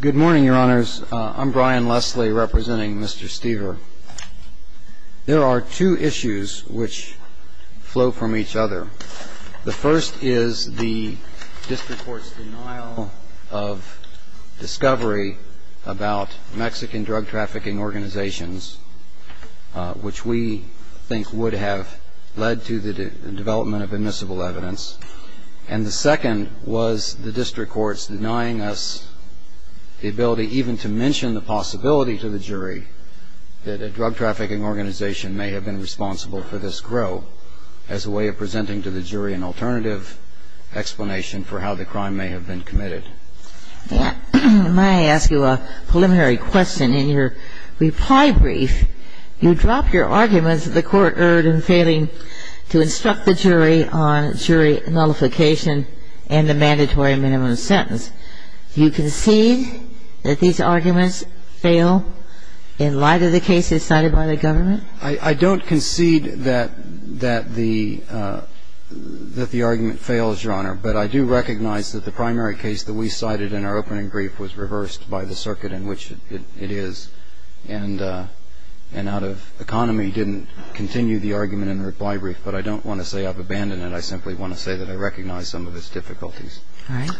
Good morning, your honors. I'm Brian Leslie representing Mr. Stever. There are two issues which flow from each other. The first is the district court's denial of discovery about Mexican drug trafficking organizations, which we think would have led to the development of admissible evidence. And the second was the district court's denying us the ability even to mention the possibility to the jury that a drug trafficking organization may have been responsible for this growth as a way of presenting to the jury an alternative explanation for how the crime may have been committed. May I ask you a preliminary question? In your reply brief, you drop your arguments that the Court erred in failing to instruct the jury on jury nullification and the mandatory minimum sentence. Do you concede that these arguments fail in light of the cases cited by the government? I don't concede that the argument fails, Your Honor, but I do recognize that the primary case that we cited in our opening brief was reversed by the circuit in which it is, and out of economy didn't continue the argument in the reply brief. But I don't want to say I've abandoned it. I simply want to say that I recognize some of its difficulties. All right.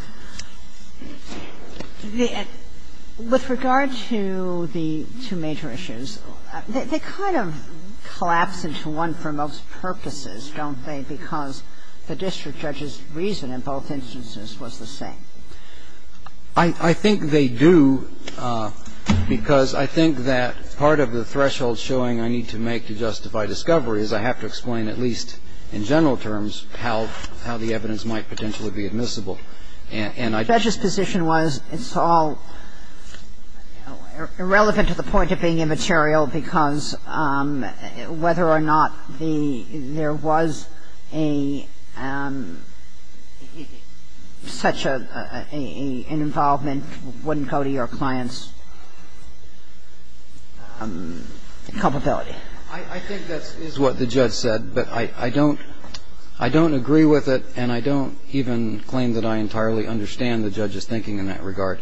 With regard to the two major issues, they kind of collapse into one for most purposes, don't they, because the district judge's reason in both instances was the same. I think they do, because I think that part of the threshold showing I need to make to justify discovery is I have to explain at least in general terms how the evidence might potentially be admissible. And I don't think that the district judge's position was it's all irrelevant to the point of being immaterial because whether or not there was such an involvement wouldn't go to your client's culpability. I think that is what the judge said, but I don't agree with it, and I don't even claim that I entirely understand the judge's thinking in that regard.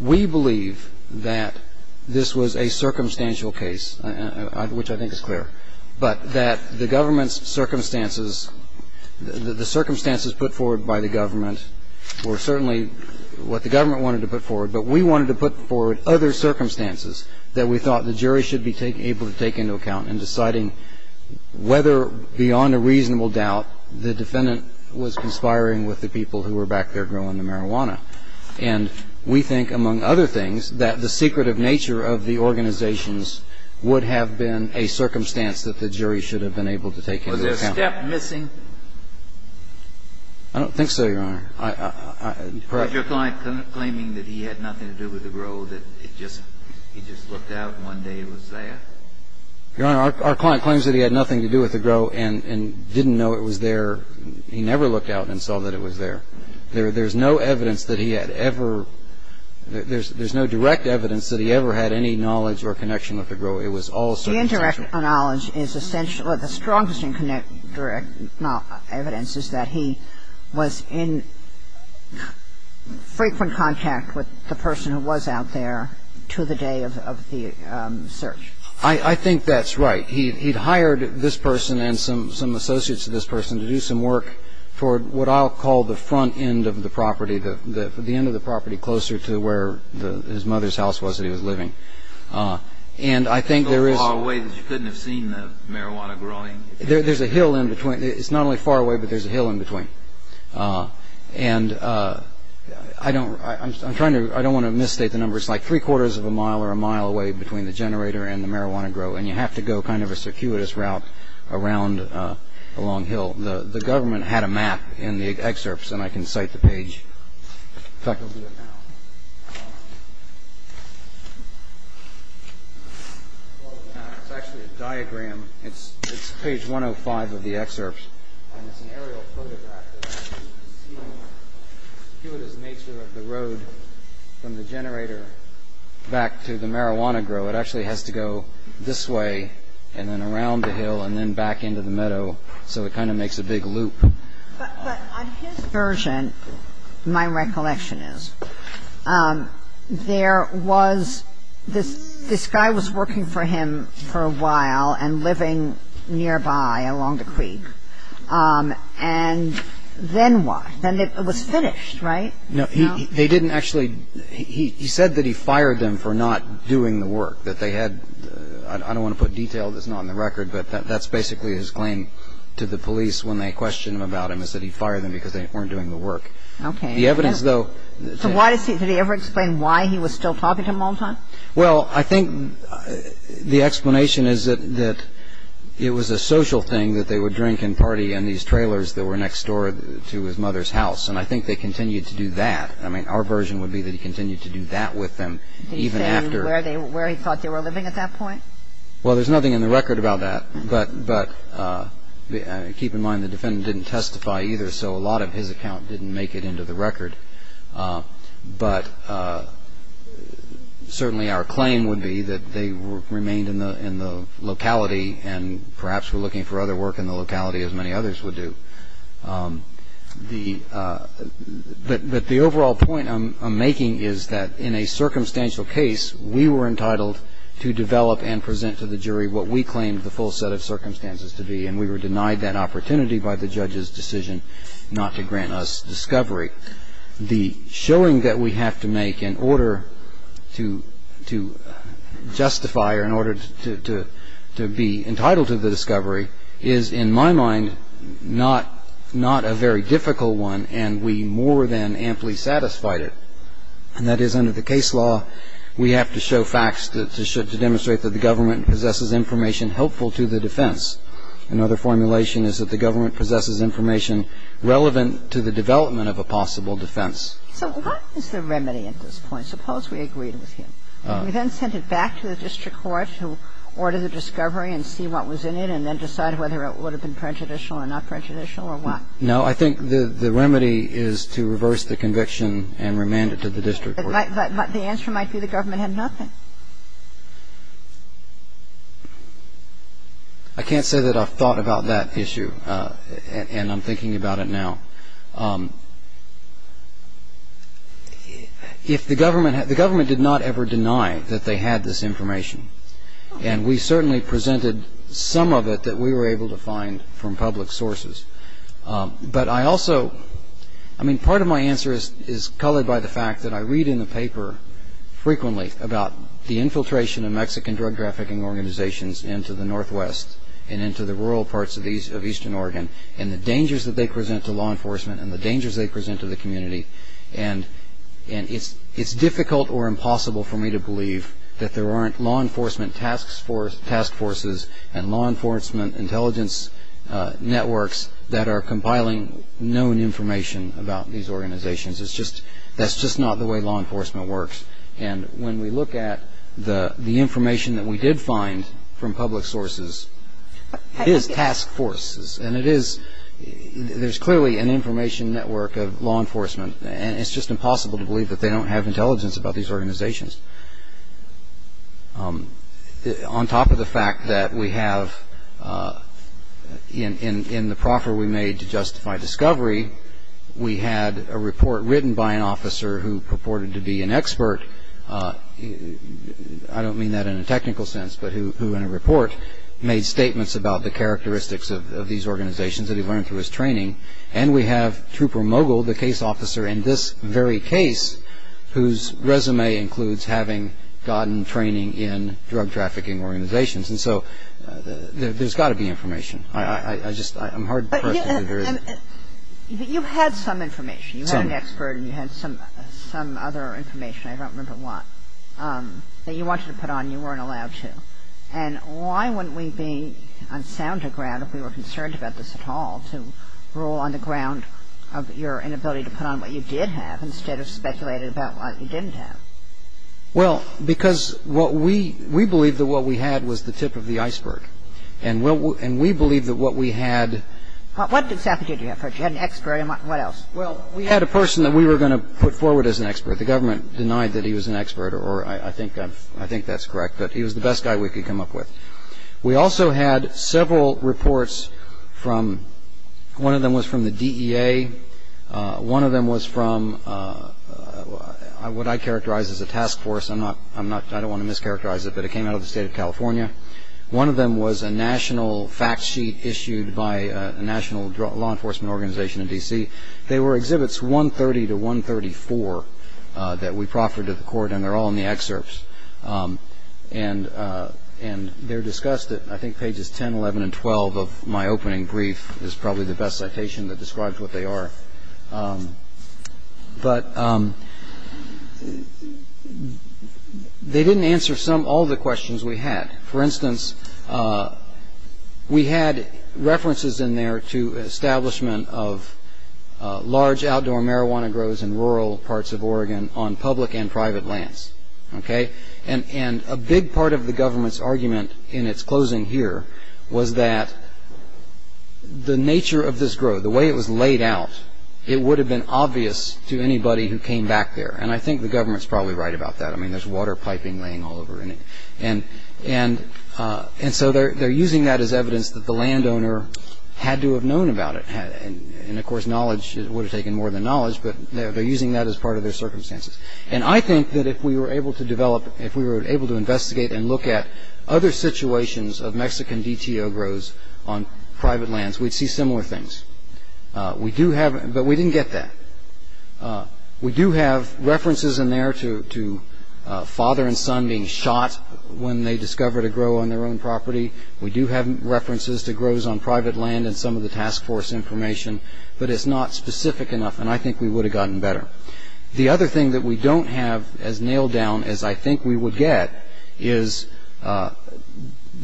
We believe that this was a circumstantial case, which I think is clear, but that the government's circumstances, the circumstances put forward by the government were certainly what the government wanted to put forward, but we wanted to put forward other circumstances that we thought the jury should be able to take into account in deciding whether beyond a reasonable doubt the defendant was conspiring with the people who were back there growing the marijuana. And we think, among other things, that the secretive nature of the organizations would have been a circumstance that the jury should have been able to take into account. Was there a step missing? I don't think so, Your Honor. Was your client claiming that he had nothing to do with the grow, that he just looked out and one day it was there? Your Honor, our client claims that he had nothing to do with the grow and didn't know it was there. He never looked out and saw that it was there. There's no evidence that he had ever – there's no direct evidence that he ever had any knowledge or connection with the grow. It was all circumstantial. The indirect knowledge is essential – or the strongest direct evidence is that he was in frequent contact with the person who was out there to the day of the search. I think that's right. He'd hired this person and some associates of this person to do some work toward what I'll call the front end of the property, the end of the property closer to where his mother's house was that he was living. And I think there is – So far away that you couldn't have seen the marijuana growing? There's a hill in between. It's not only far away, but there's a hill in between. And I don't – I'm trying to – I don't want to misstate the number. It's like three-quarters of a mile or a mile away between the generator and the marijuana grow, and you have to go kind of a circuitous route around the long hill. The government had a map in the excerpts, and I can cite the page. In fact, I'll do it now. It's actually a diagram. It's page 105 of the excerpts. And it's an aerial photograph that actually shows the nature of the road from the generator back to the marijuana grow. It actually has to go this way and then around the hill and then back into the meadow, so it kind of makes a big loop. But on his version, my recollection is, there was – this guy was working for him for a while and living nearby along the creek. And then what? Then it was finished, right? No, he didn't actually – he said that he fired them for not doing the work, that they had – I don't want to put detail that's not on the record, but that's basically his claim to the police when they question him about him is that he fired them because they weren't doing the work. Okay. The evidence, though – So why does he – did he ever explain why he was still talking to them all the time? Well, I think the explanation is that it was a social thing that they would drink and party in these trailers that were next door to his mother's house. And I think they continued to do that. I mean, our version would be that he continued to do that with them even after – But I think that's the point. But can you tell us where he thought they were living at that point? Well, there's nothing in the record about that. But keep in mind, the defendant didn't testify either. So a lot of his account didn't make it into the record. But certainly our claim would be that they remained in the locality and perhaps were looking for other work in the locality, as many others would do. But the overall point I'm making is that in a circumstantial case, we were entitled to develop and present to the jury what we claimed the full set of circumstances to be, and we were denied that opportunity by the judge's decision not to grant us discovery. The showing that we have to make in order to justify or in order to be entitled to the discovery is, in my mind, not a very difficult one, and we more than amply satisfied it. And that is, under the case law, we have to show facts to demonstrate that the government possesses information helpful to the defense. Another formulation is that the government possesses information relevant to the development of a possible defense. So what is the remedy at this point? Suppose we agreed with him. We then sent it back to the district court to order the discovery and see what was in it and then decide whether it would have been prejudicial or not prejudicial or what? No. I think the remedy is to reverse the conviction and remand it to the district court. But the answer might be the government had nothing. I can't say that I've thought about that issue, and I'm thinking about it now. The government did not ever deny that they had this information, and we certainly presented some of it that we were able to find from public sources. But I also, I mean, part of my answer is colored by the fact that I read in the paper frequently about the infiltration of Mexican drug trafficking organizations into the northwest and into the rural parts of eastern Oregon and the dangers that they present to law enforcement and the dangers they present to the community. And it's difficult or impossible for me to believe that there aren't law enforcement task forces and law enforcement intelligence networks that are compiling known information about these organizations. That's just not the way law enforcement works. And when we look at the information that we did find from public sources, it is task forces. And it is, there's clearly an information network of law enforcement, and it's just impossible to believe that they don't have intelligence about these organizations. On top of the fact that we have, in the proffer we made to justify discovery, we had a report written by an officer who purported to be an expert. I don't mean that in a technical sense, but who in a report made statements about the characteristics of these organizations that he learned through his training. And we have Trooper Mogul, the case officer in this very case, whose resume includes having gotten training in drug trafficking organizations. And so there's got to be information. I just, I'm hard pressed to believe there is. But you had some information. You had an expert and you had some other information, I don't remember what, that you wanted to put on and you weren't allowed to. And why wouldn't we be on sounder ground if we were concerned about this at all to rule on the ground of your inability to put on what you did have instead of speculating about what you didn't have? Well, because what we, we believed that what we had was the tip of the iceberg. And we believed that what we had. What did you have? You had an expert and what else? Well, we had a person that we were going to put forward as an expert. The government denied that he was an expert, or I think that's correct. But he was the best guy we could come up with. We also had several reports from, one of them was from the DEA. One of them was from what I characterize as a task force. I'm not, I don't want to mischaracterize it, but it came out of the State of California. One of them was a national fact sheet issued by a national law enforcement organization in D.C. They were exhibits 130 to 134 that we proffered to the court, and they're all in the excerpts. And they're discussed at, I think, pages 10, 11, and 12 of my opening brief. It's probably the best citation that describes what they are. But they didn't answer some, all the questions we had. For instance, we had references in there to establishment of large outdoor marijuana grows in rural parts of Oregon on public and private lands. Okay? And a big part of the government's argument in its closing here was that the nature of this grow, the way it was laid out, it would have been obvious to anybody who came back there. And I think the government's probably right about that. I mean, there's water piping laying all over it. And so they're using that as evidence that the landowner had to have known about it. And, of course, knowledge would have taken more than knowledge, but they're using that as part of their circumstances. And I think that if we were able to develop, if we were able to investigate and look at other situations of Mexican DTO grows on private lands, we'd see similar things. We do have, but we didn't get that. We do have references in there to father and son being shot when they discovered a grow on their own property. We do have references to grows on private land and some of the task force information. But it's not specific enough, and I think we would have gotten better. The other thing that we don't have as nailed down as I think we would get is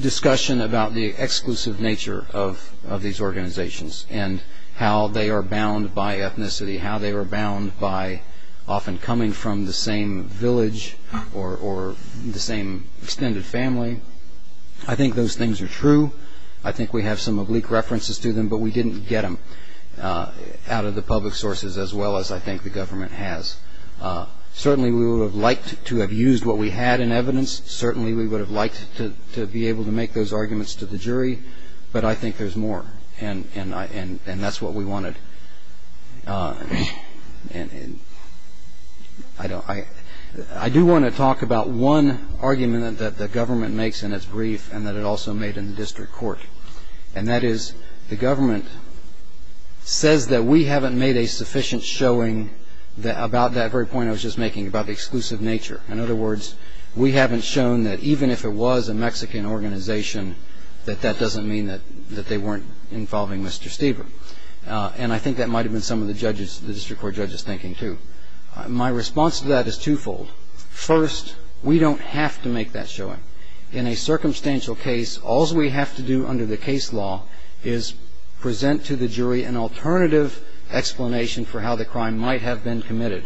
discussion about the exclusive nature of these organizations. And how they are bound by ethnicity, how they are bound by often coming from the same village or the same extended family. I think those things are true. I think we have some oblique references to them, but we didn't get them out of the public sources as well as I think the government has. Certainly we would have liked to have used what we had in evidence. Certainly we would have liked to be able to make those arguments to the jury. But I think there's more, and that's what we wanted. I do want to talk about one argument that the government makes in its brief and that it also made in the district court. And that is the government says that we haven't made a sufficient showing about that very point I was just making about the exclusive nature. In other words, we haven't shown that even if it was a Mexican organization, that that doesn't mean that they weren't involving Mr. Steber. And I think that might have been some of the judges, the district court judges thinking too. My response to that is twofold. First, we don't have to make that showing. In a circumstantial case, all we have to do under the case law is present to the jury an alternative explanation for how the crime might have been committed.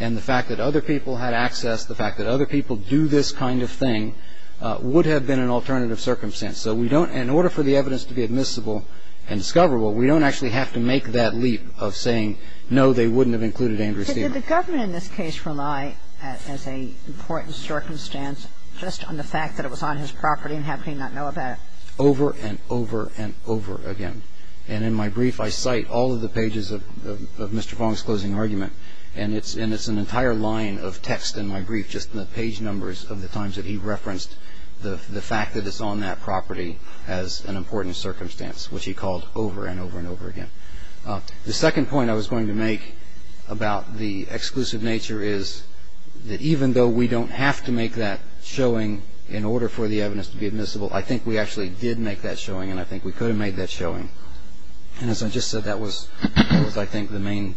And the fact that other people had access, the fact that other people do this kind of thing would have been an alternative circumstance. So we don't – in order for the evidence to be admissible and discoverable, we don't actually have to make that leap of saying, no, they wouldn't have included Andrew Steber. But did the government in this case rely as an important circumstance just on the fact that it was on his property and have him not know about it? Over and over and over again. And in my brief, I cite all of the pages of Mr. Fong's closing argument. And it's an entire line of text in my brief, just the page numbers of the times that he referenced the fact that it's on that property as an important circumstance, which he called over and over and over again. The second point I was going to make about the exclusive nature is that even though we don't have to make that showing in order for the evidence to be admissible, I think we actually did make that showing and I think we could have made that showing. And as I just said, that was, I think, the main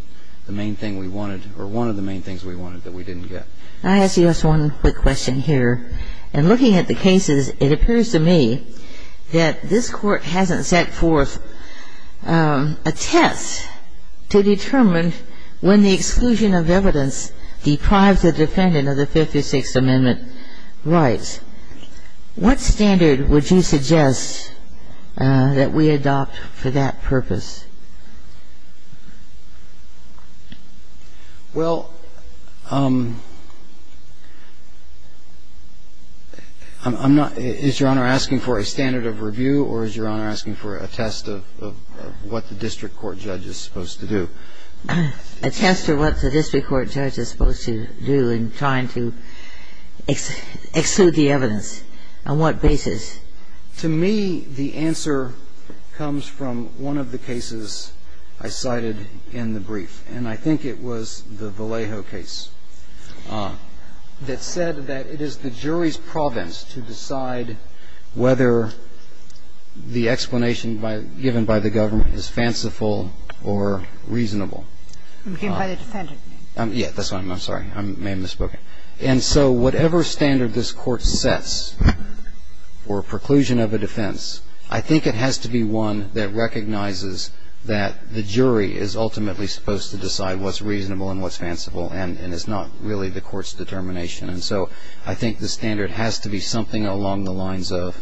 thing we wanted or one of the main things we wanted that we didn't get. I ask you just one quick question here. In looking at the cases, it appears to me that this Court hasn't set forth a test to determine when the exclusion of evidence deprives a defendant of the Fifth or Sixth Amendment rights. What standard would you suggest that we adopt for that purpose? Well, I'm not — is Your Honor asking for a standard of review or is Your Honor asking for a test of what the district court judge is supposed to do? A test of what the district court judge is supposed to do in trying to exclude the evidence. On what basis? To me, the answer comes from one of the cases I cited in the brief, and I think it was the Vallejo case that said that it is the jury's province to decide whether the explanation given by the government is fanciful or reasonable. It was given by the defendant. Yes, that's right. I'm sorry. I may have misspoken. And so whatever standard this Court sets for preclusion of a defense, I think it has to be one that recognizes that the jury is ultimately supposed to decide what's reasonable and what's fanciful and is not really the Court's determination. And so I think the standard has to be something along the lines of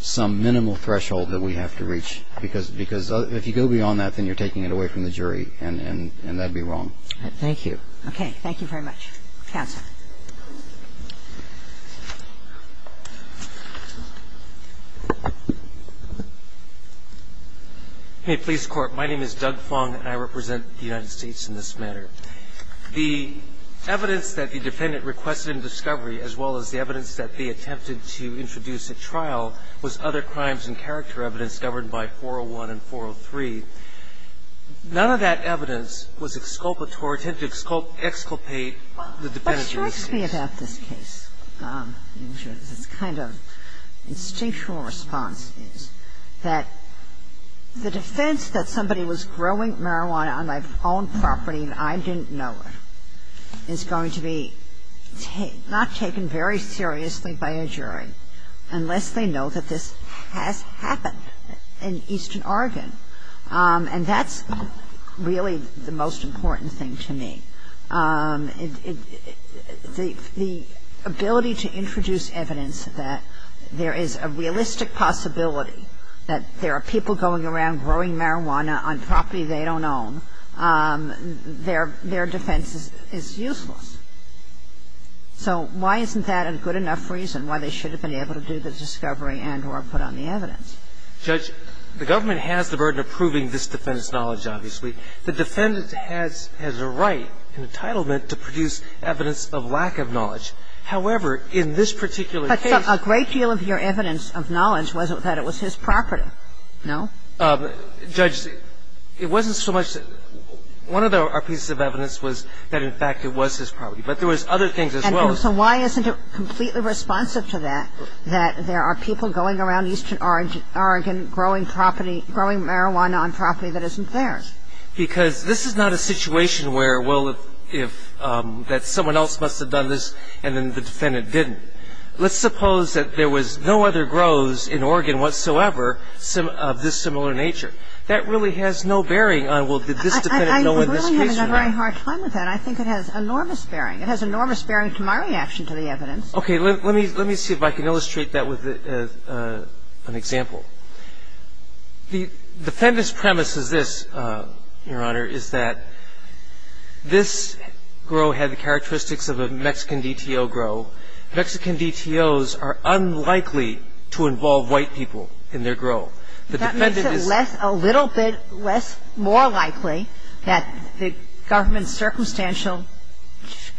some minimal threshold that we have to reach, because if you go beyond that, then you're taking it away from the jury, and that would be wrong. Thank you. Okay. Thank you very much. Counsel. Hey, please, Court. My name is Doug Fong, and I represent the United States in this matter. The evidence that the defendant requested in discovery, as well as the evidence that they attempted to introduce at trial, was other crimes and character evidence governed by 401 and 403. None of that evidence was exculpatory, tended to exculpate the defendant in this case. Well, it strikes me about this case, this kind of instinctual response, is that the defense that somebody was growing marijuana on my own property and I didn't know it, is going to be not taken very seriously by a jury unless they know that this has happened in eastern Oregon. And that's really the most important thing to me. The ability to introduce evidence that there is a realistic possibility that there are people going around growing marijuana on property they don't own, their defense is useless. So why isn't that a good enough reason why they should have been able to do the discovery and or put on the evidence? Judge, the government has the burden of proving this defendant's knowledge, obviously. The defendant has a right, an entitlement, to produce evidence of lack of knowledge. However, in this particular case ---- But a great deal of your evidence of knowledge was that it was his property, no? Judge, it wasn't so much ---- one of our pieces of evidence was that, in fact, it was his property. But there was other things as well. And so why isn't it completely responsive to that, that there are people going around eastern Oregon growing property ---- growing marijuana on property that isn't theirs? Because this is not a situation where, well, if ---- that someone else must have done this and then the defendant didn't. Let's suppose that there was no other grows in Oregon whatsoever of this similar nature. That really has no bearing on, well, did this defendant know in this case or not? I'm really having a very hard time with that. I think it has enormous bearing. It has enormous bearing to my reaction to the evidence. Okay. Let me see if I can illustrate that with an example. The defendant's premise is this, Your Honor, is that this grow had the characteristics of a Mexican DTO grow. Mexican DTOs are unlikely to involve white people in their grow. The defendant is ---- That makes it less ---- a little bit less more likely that the government's circumstantial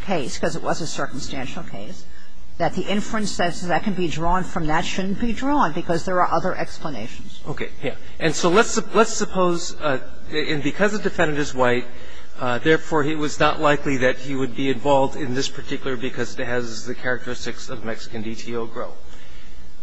case, because it was a circumstantial case, that the inferences that can be drawn from that shouldn't be drawn because there are other explanations. Okay. Yes. And so let's suppose ---- and because the defendant is white, therefore, it was not likely that he would be involved in this particular because it has the characteristics of Mexican DTO grow.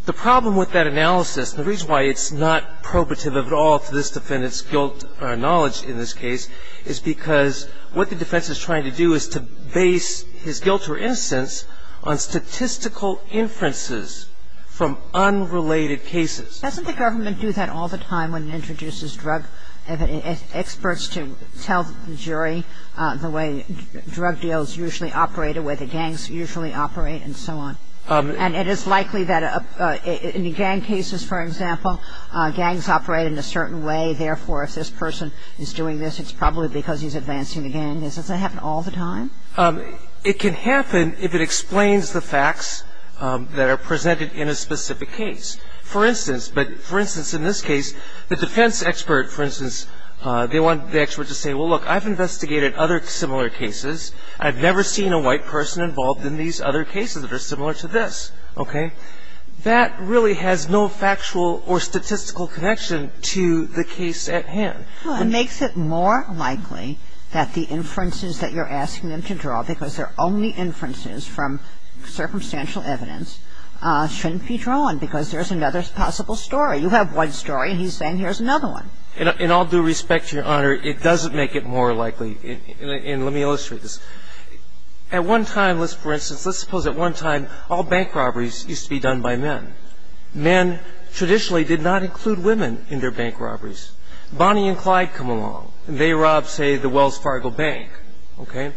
The problem with that analysis, the reason why it's not probative at all to this defendant's guilt or knowledge in this case is because what the defense is trying to do is to base his guilt or innocence on statistical inferences from unrelated cases. Doesn't the government do that all the time when it introduces drug experts to tell the jury the way drug deals usually operate or where the gangs usually operate and so on? And it is likely that in the gang cases, for example, gangs operate in a certain way. Therefore, if this person is doing this, it's probably because he's advancing the gang. Doesn't that happen all the time? It can happen if it explains the facts that are presented in a specific case. They want the expert to say, well, look, I've investigated other similar cases. I've never seen a white person involved in these other cases that are similar to this, okay? That really has no factual or statistical connection to the case at hand. It makes it more likely that the inferences that you're asking them to draw, because they're only inferences from circumstantial evidence, shouldn't be drawn because there's another possible story. You have one story and he's saying here's another one. In all due respect, Your Honor, it doesn't make it more likely. And let me illustrate this. At one time, for instance, let's suppose at one time all bank robberies used to be done by men. Men traditionally did not include women in their bank robberies. Bonnie and Clyde come along and they rob, say, the Wells Fargo Bank, okay?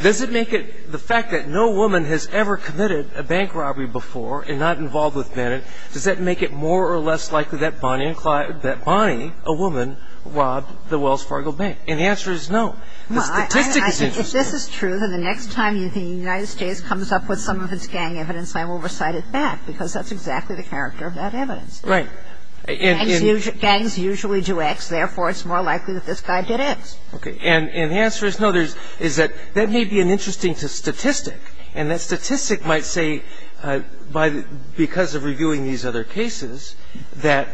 Does it make it, the fact that no woman has ever committed a bank robbery before and not involved with men, does that make it more or less likely that Bonnie a woman robbed the Wells Fargo Bank? And the answer is no. The statistic is interesting. If this is true, then the next time the United States comes up with some of its gang evidence, I will recite it back because that's exactly the character of that evidence. Right. Gangs usually do X, therefore it's more likely that this guy did X. Okay. And the answer is no. There's that may be an interesting statistic. And that statistic might say, because of reviewing these other cases, that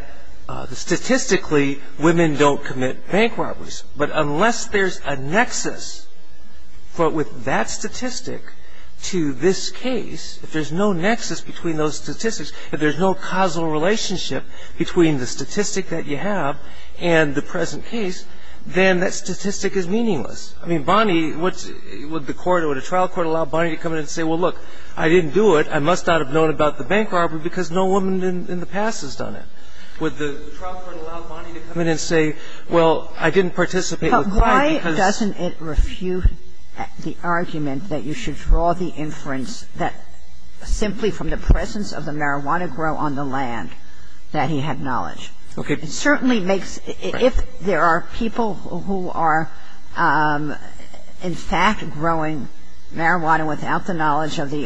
statistically women don't commit bank robberies. But unless there's a nexus with that statistic to this case, if there's no nexus between those statistics, if there's no causal relationship between the statistic that you have and the present case, then that statistic is meaningless. I mean, Bonnie, would a trial court allow Bonnie to come in and say, well, look, I didn't do it. I must not have known about the bank robbery because no woman in the past has done it. Would the trial court allow Bonnie to come in and say, well, I didn't participate with Clyde because ‑‑ But why doesn't it refute the argument that you should draw the inference that simply from the presence of the marijuana grow on the land that he had knowledge. Okay. It certainly makes ‑‑ Right. If there are people who are in fact growing marijuana without the knowledge of the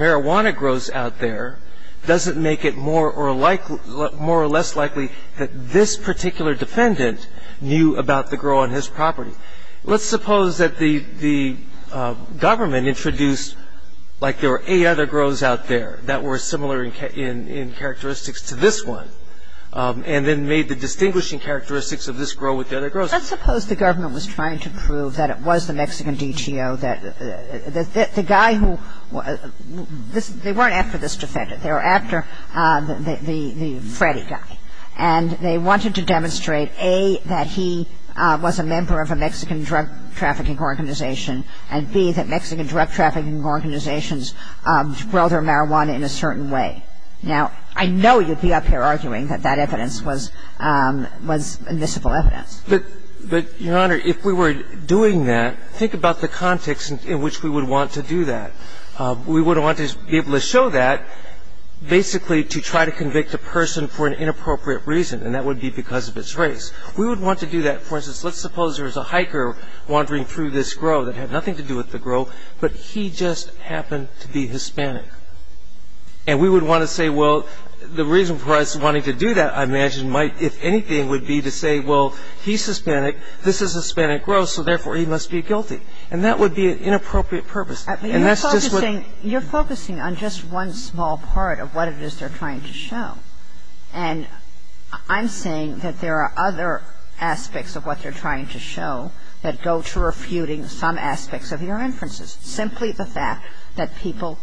marijuana grows out there, doesn't make it more or less likely that this particular defendant knew about the grow on his property. Let's suppose that the government introduced, like the Federal Government, out there that were similar in characteristics to this one, and then made the distinguishing characteristics of this grow with the other grows. Let's suppose the government was trying to prove that it was the Mexican DTO, that the guy who ‑‑ they weren't after this defendant. They were after the Freddy guy. And they wanted to demonstrate, A, that he was a member of a Mexican drug trafficking organization, and, B, that Mexican drug trafficking organizations grow their marijuana in a certain way. Now, I know you'd be up here arguing that that evidence was miscible evidence. But, Your Honor, if we were doing that, think about the context in which we would want to do that. We would want to be able to show that basically to try to convict a person for an inappropriate reason, and that would be because of its race. We would want to do that, for instance, let's suppose there's a hiker wandering through this grow that had nothing to do with the grow, but he just happened to be Hispanic. And we would want to say, well, the reason for us wanting to do that, I imagine, might, if anything, would be to say, well, he's Hispanic, this is a Hispanic grow, so, therefore, he must be guilty. And that would be an inappropriate purpose. And that's just what ‑‑ But you're focusing on just one small part of what it is they're trying to show. And I'm saying that there are other aspects of what they're trying to show that go to refuting some aspects of your inferences. Simply the fact that people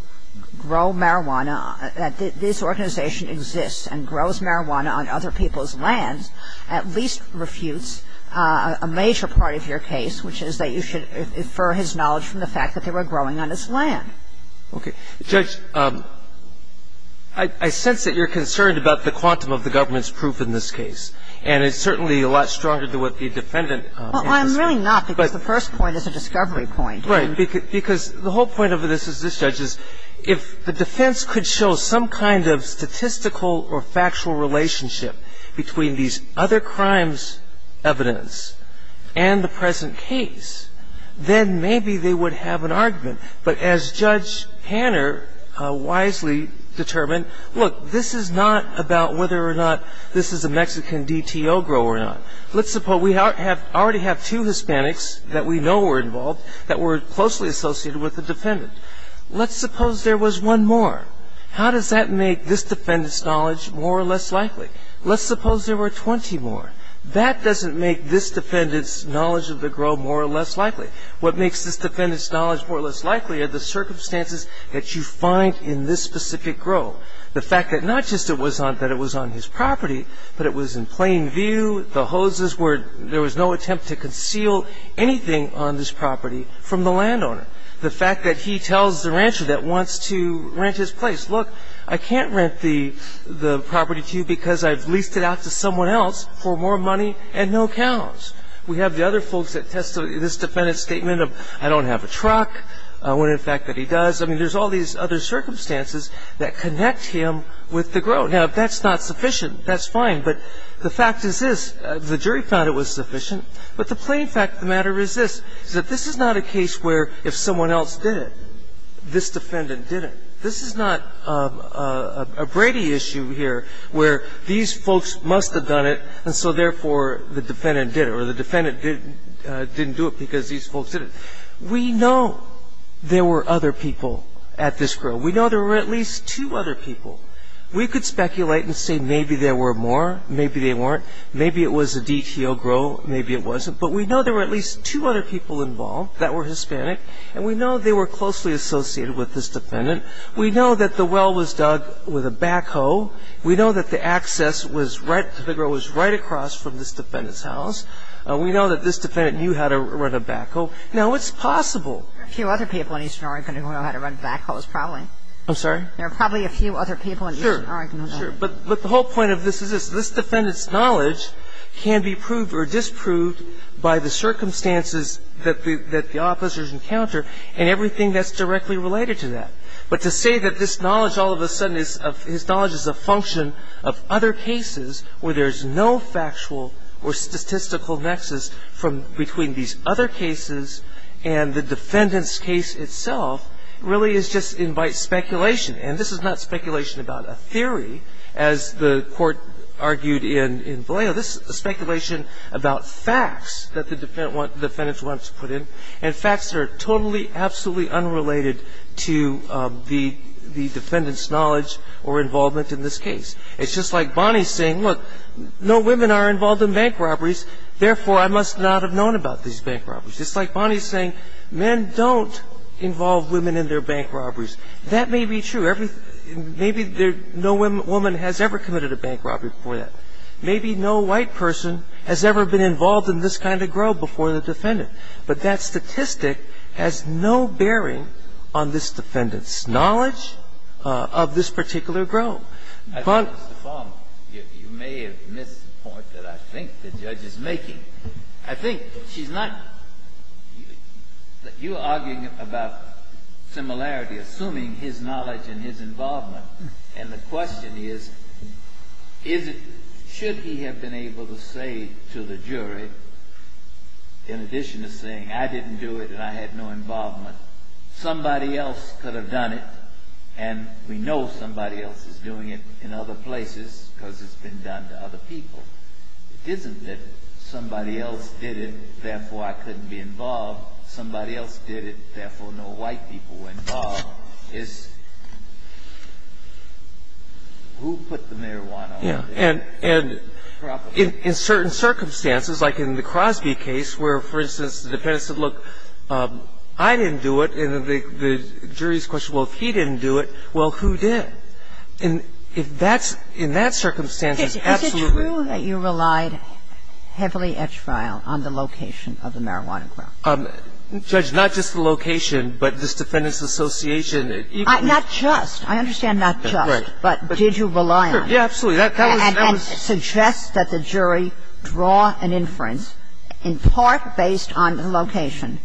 grow marijuana, that this organization exists and grows marijuana on other people's lands at least refutes a major part of your case, which is that you should infer his knowledge from the fact that they were growing on his land. Okay. Judge, I sense that you're concerned about the quantum of the government's proof in this case. And it's certainly a lot stronger than what the defendant ‑‑ Well, I'm really not, because the first point is a discovery point. Right. Because the whole point of this is this, Judge, is if the defense could show some kind of statistical or factual relationship between these other crimes' evidence and the present case, then maybe they would have an argument. But as Judge Hanner wisely determined, look, this is not about whether or not this is a Mexican DTO grow or not. Let's suppose we already have two Hispanics that we know were involved that were closely associated with the defendant. Let's suppose there was one more. How does that make this defendant's knowledge more or less likely? Let's suppose there were 20 more. That doesn't make this defendant's knowledge of the grow more or less likely. What makes this defendant's knowledge more or less likely are the circumstances that you find in this specific grow. The fact that not just that it was on his property, but it was in plain view, the hoses were ‑‑ there was no attempt to conceal anything on this property from the landowner. The fact that he tells the rancher that wants to rent his place, look, I can't rent the property to you because I've leased it out to someone else for more money and no accounts. We have the other folks that testify to this defendant's statement of, I don't have a truck, when in fact that he does. I mean, there's all these other circumstances that connect him with the grow. Now, if that's not sufficient, that's fine. But the fact is this. The jury found it was sufficient. But the plain fact of the matter is this, is that this is not a case where if someone else did it, this defendant didn't. This is not a Brady issue here where these folks must have done it, and so therefore the defendant did it, or the defendant didn't do it because these folks did it. We know there were other people at this grow. We know there were at least two other people. We could speculate and say maybe there were more, maybe they weren't. Maybe it was a DTO grow, maybe it wasn't. But we know there were at least two other people involved that were Hispanic, and we know they were closely associated with this defendant. We know that the well was dug with a backhoe. We know that the access to the grow was right across from this defendant's house. We know that this defendant knew how to run a backhoe. Now, it's possible. There are a few other people in Eastern Oregon who know how to run backhoes, probably. I'm sorry? There are probably a few other people in Eastern Oregon. Sure, sure. But the whole point of this is this. This defendant's knowledge can be proved or disproved by the circumstances that the officers encounter and everything that's directly related to that. But to say that this knowledge all of a sudden is a function of other cases where there's no factual or statistical nexus between these other cases and the defendant's case itself really just invites speculation. And this is not speculation about a theory, as the Court argued in Vallejo. This is a speculation about facts that the defendant wants to put in and facts that are totally, absolutely unrelated to the defendant's knowledge or involvement in this case. It's just like Bonnie's saying, look, no women are involved in bank robberies, therefore I must not have known about these bank robberies. It's like Bonnie's saying, men don't involve women in their bank robberies. That may be true. Maybe no woman has ever committed a bank robbery before that. Maybe no white person has ever been involved in this kind of grow before the defendant. But that statistic has no bearing on this defendant's knowledge of this particular grove. But Mr. Palmer, you may have missed the point that I think the judge is making. I think she's not – you are arguing about similarity, assuming his knowledge and his involvement, and the question is, is it – should he have been able to say to the jury, in addition to saying, I didn't do it and I had no involvement, somebody else could have done it and we know somebody else is doing it in other places because it's been done to other people. It isn't that somebody else did it, therefore I couldn't be involved. Somebody else did it, therefore no white people were involved. It's who put the marijuana on the table. And in certain circumstances, like in the Crosby case where, for instance, the defendant said, look, I didn't do it. And the jury's question, well, if he didn't do it, well, who did? And if that's – in that circumstance, it's absolutely – Is it true that you relied heavily at trial on the location of the marijuana grove? Judge, not just the location, but this defendant's association. Not just. I understand not just. Correct. But did you rely on it? Yes, absolutely. And suggest that the jury draw an inference in part based on the location,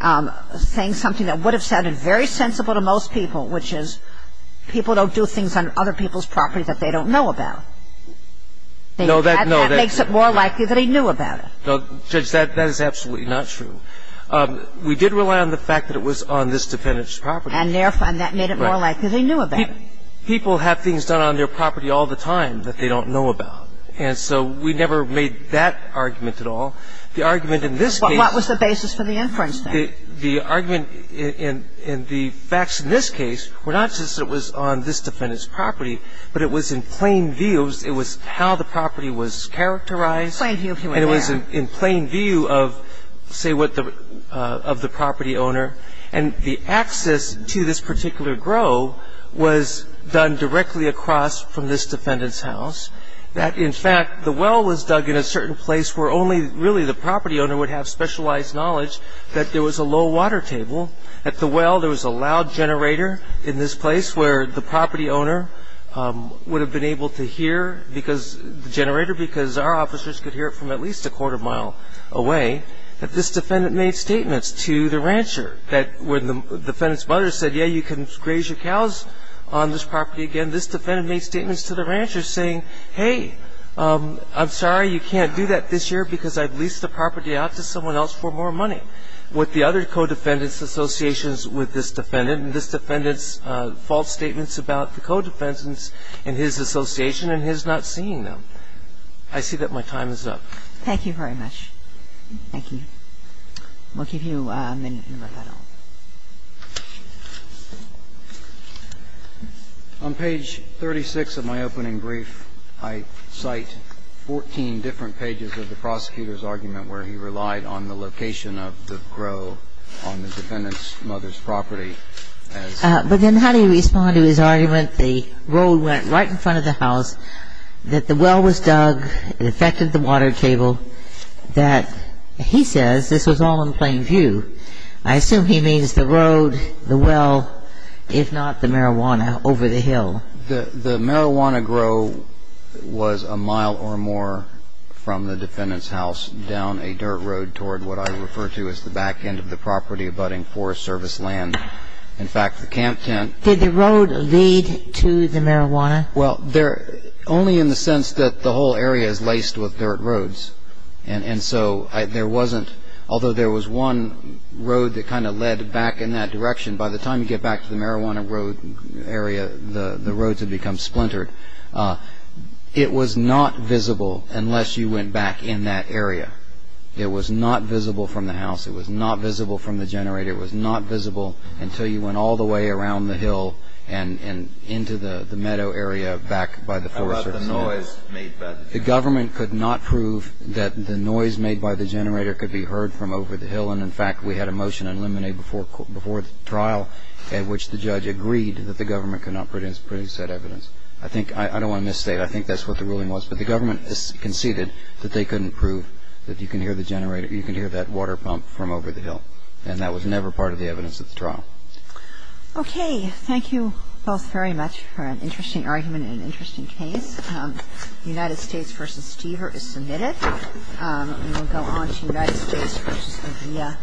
saying something that would have sounded very sensible to most people, which is people don't do things on other people's property that they don't know about. No, that – no. That makes it more likely that he knew about it. Judge, that is absolutely not true. We did rely on the fact that it was on this defendant's property. And therefore, and that made it more likely that he knew about it. Well, I mean, people have things done on their property all the time that they don't know about. And so we never made that argument at all. The argument in this case – What was the basis for the inference, then? The argument in the facts in this case were not just that it was on this defendant's property, but it was in plain view. It was how the property was characterized. Plain view of who was there. And it was in plain view of, say, what the – of the property owner. And the access to this particular grove was done directly across from this defendant's house. That, in fact, the well was dug in a certain place where only really the property owner would have specialized knowledge that there was a low water table. At the well, there was a loud generator in this place where the property owner would have been able to hear because – the generator because our officers could hear it from at least a quarter mile away. And so, again, this defendant made statements to the rancher that when the defendant's mother said, yeah, you can graze your cows on this property again, this defendant made statements to the rancher saying, hey, I'm sorry, you can't do that this year because I've leased the property out to someone else for more money with the other co-defendant's associations with this defendant. And this defendant's false statements about the co-defendants and his association and his not seeing them. I see that my time is up. Thank you very much. Thank you. We'll give you a minute to wrap that up. On page 36 of my opening brief, I cite 14 different pages of the prosecutor's argument where he relied on the location of the grove on the defendant's mother's property. But then how do you respond to his argument the road went right in front of the house, that the well was dug, it affected the water table, that he says this was all in plain view. I assume he means the road, the well, if not the marijuana over the hill. The marijuana grow was a mile or more from the defendant's house down a dirt road toward what I refer to as the back end of the property abutting Forest Service land. In fact, the camp tent. Did the road lead to the marijuana? Well, only in the sense that the whole area is laced with dirt roads. And so there wasn't, although there was one road that kind of led back in that direction, by the time you get back to the marijuana road area, the roads had become splintered. It was not visible unless you went back in that area. It was not visible from the house. It was not visible from the generator. It was not visible until you went all the way around the hill and into the meadow area back by the Forest Service. How about the noise made by the generator? The government could not prove that the noise made by the generator could be heard from over the hill. And, in fact, we had a motion in Lemonade before the trial at which the judge agreed that the government could not produce that evidence. I think, I don't want to misstate, I think that's what the ruling was. But the government conceded that they couldn't prove that you can hear the generator or you can hear that water pump from over the hill. And that was never part of the evidence at the trial. Okay. Thank you both very much for an interesting argument and an interesting case. United States v. Stever is submitted. And we'll go on to United States v. Avila.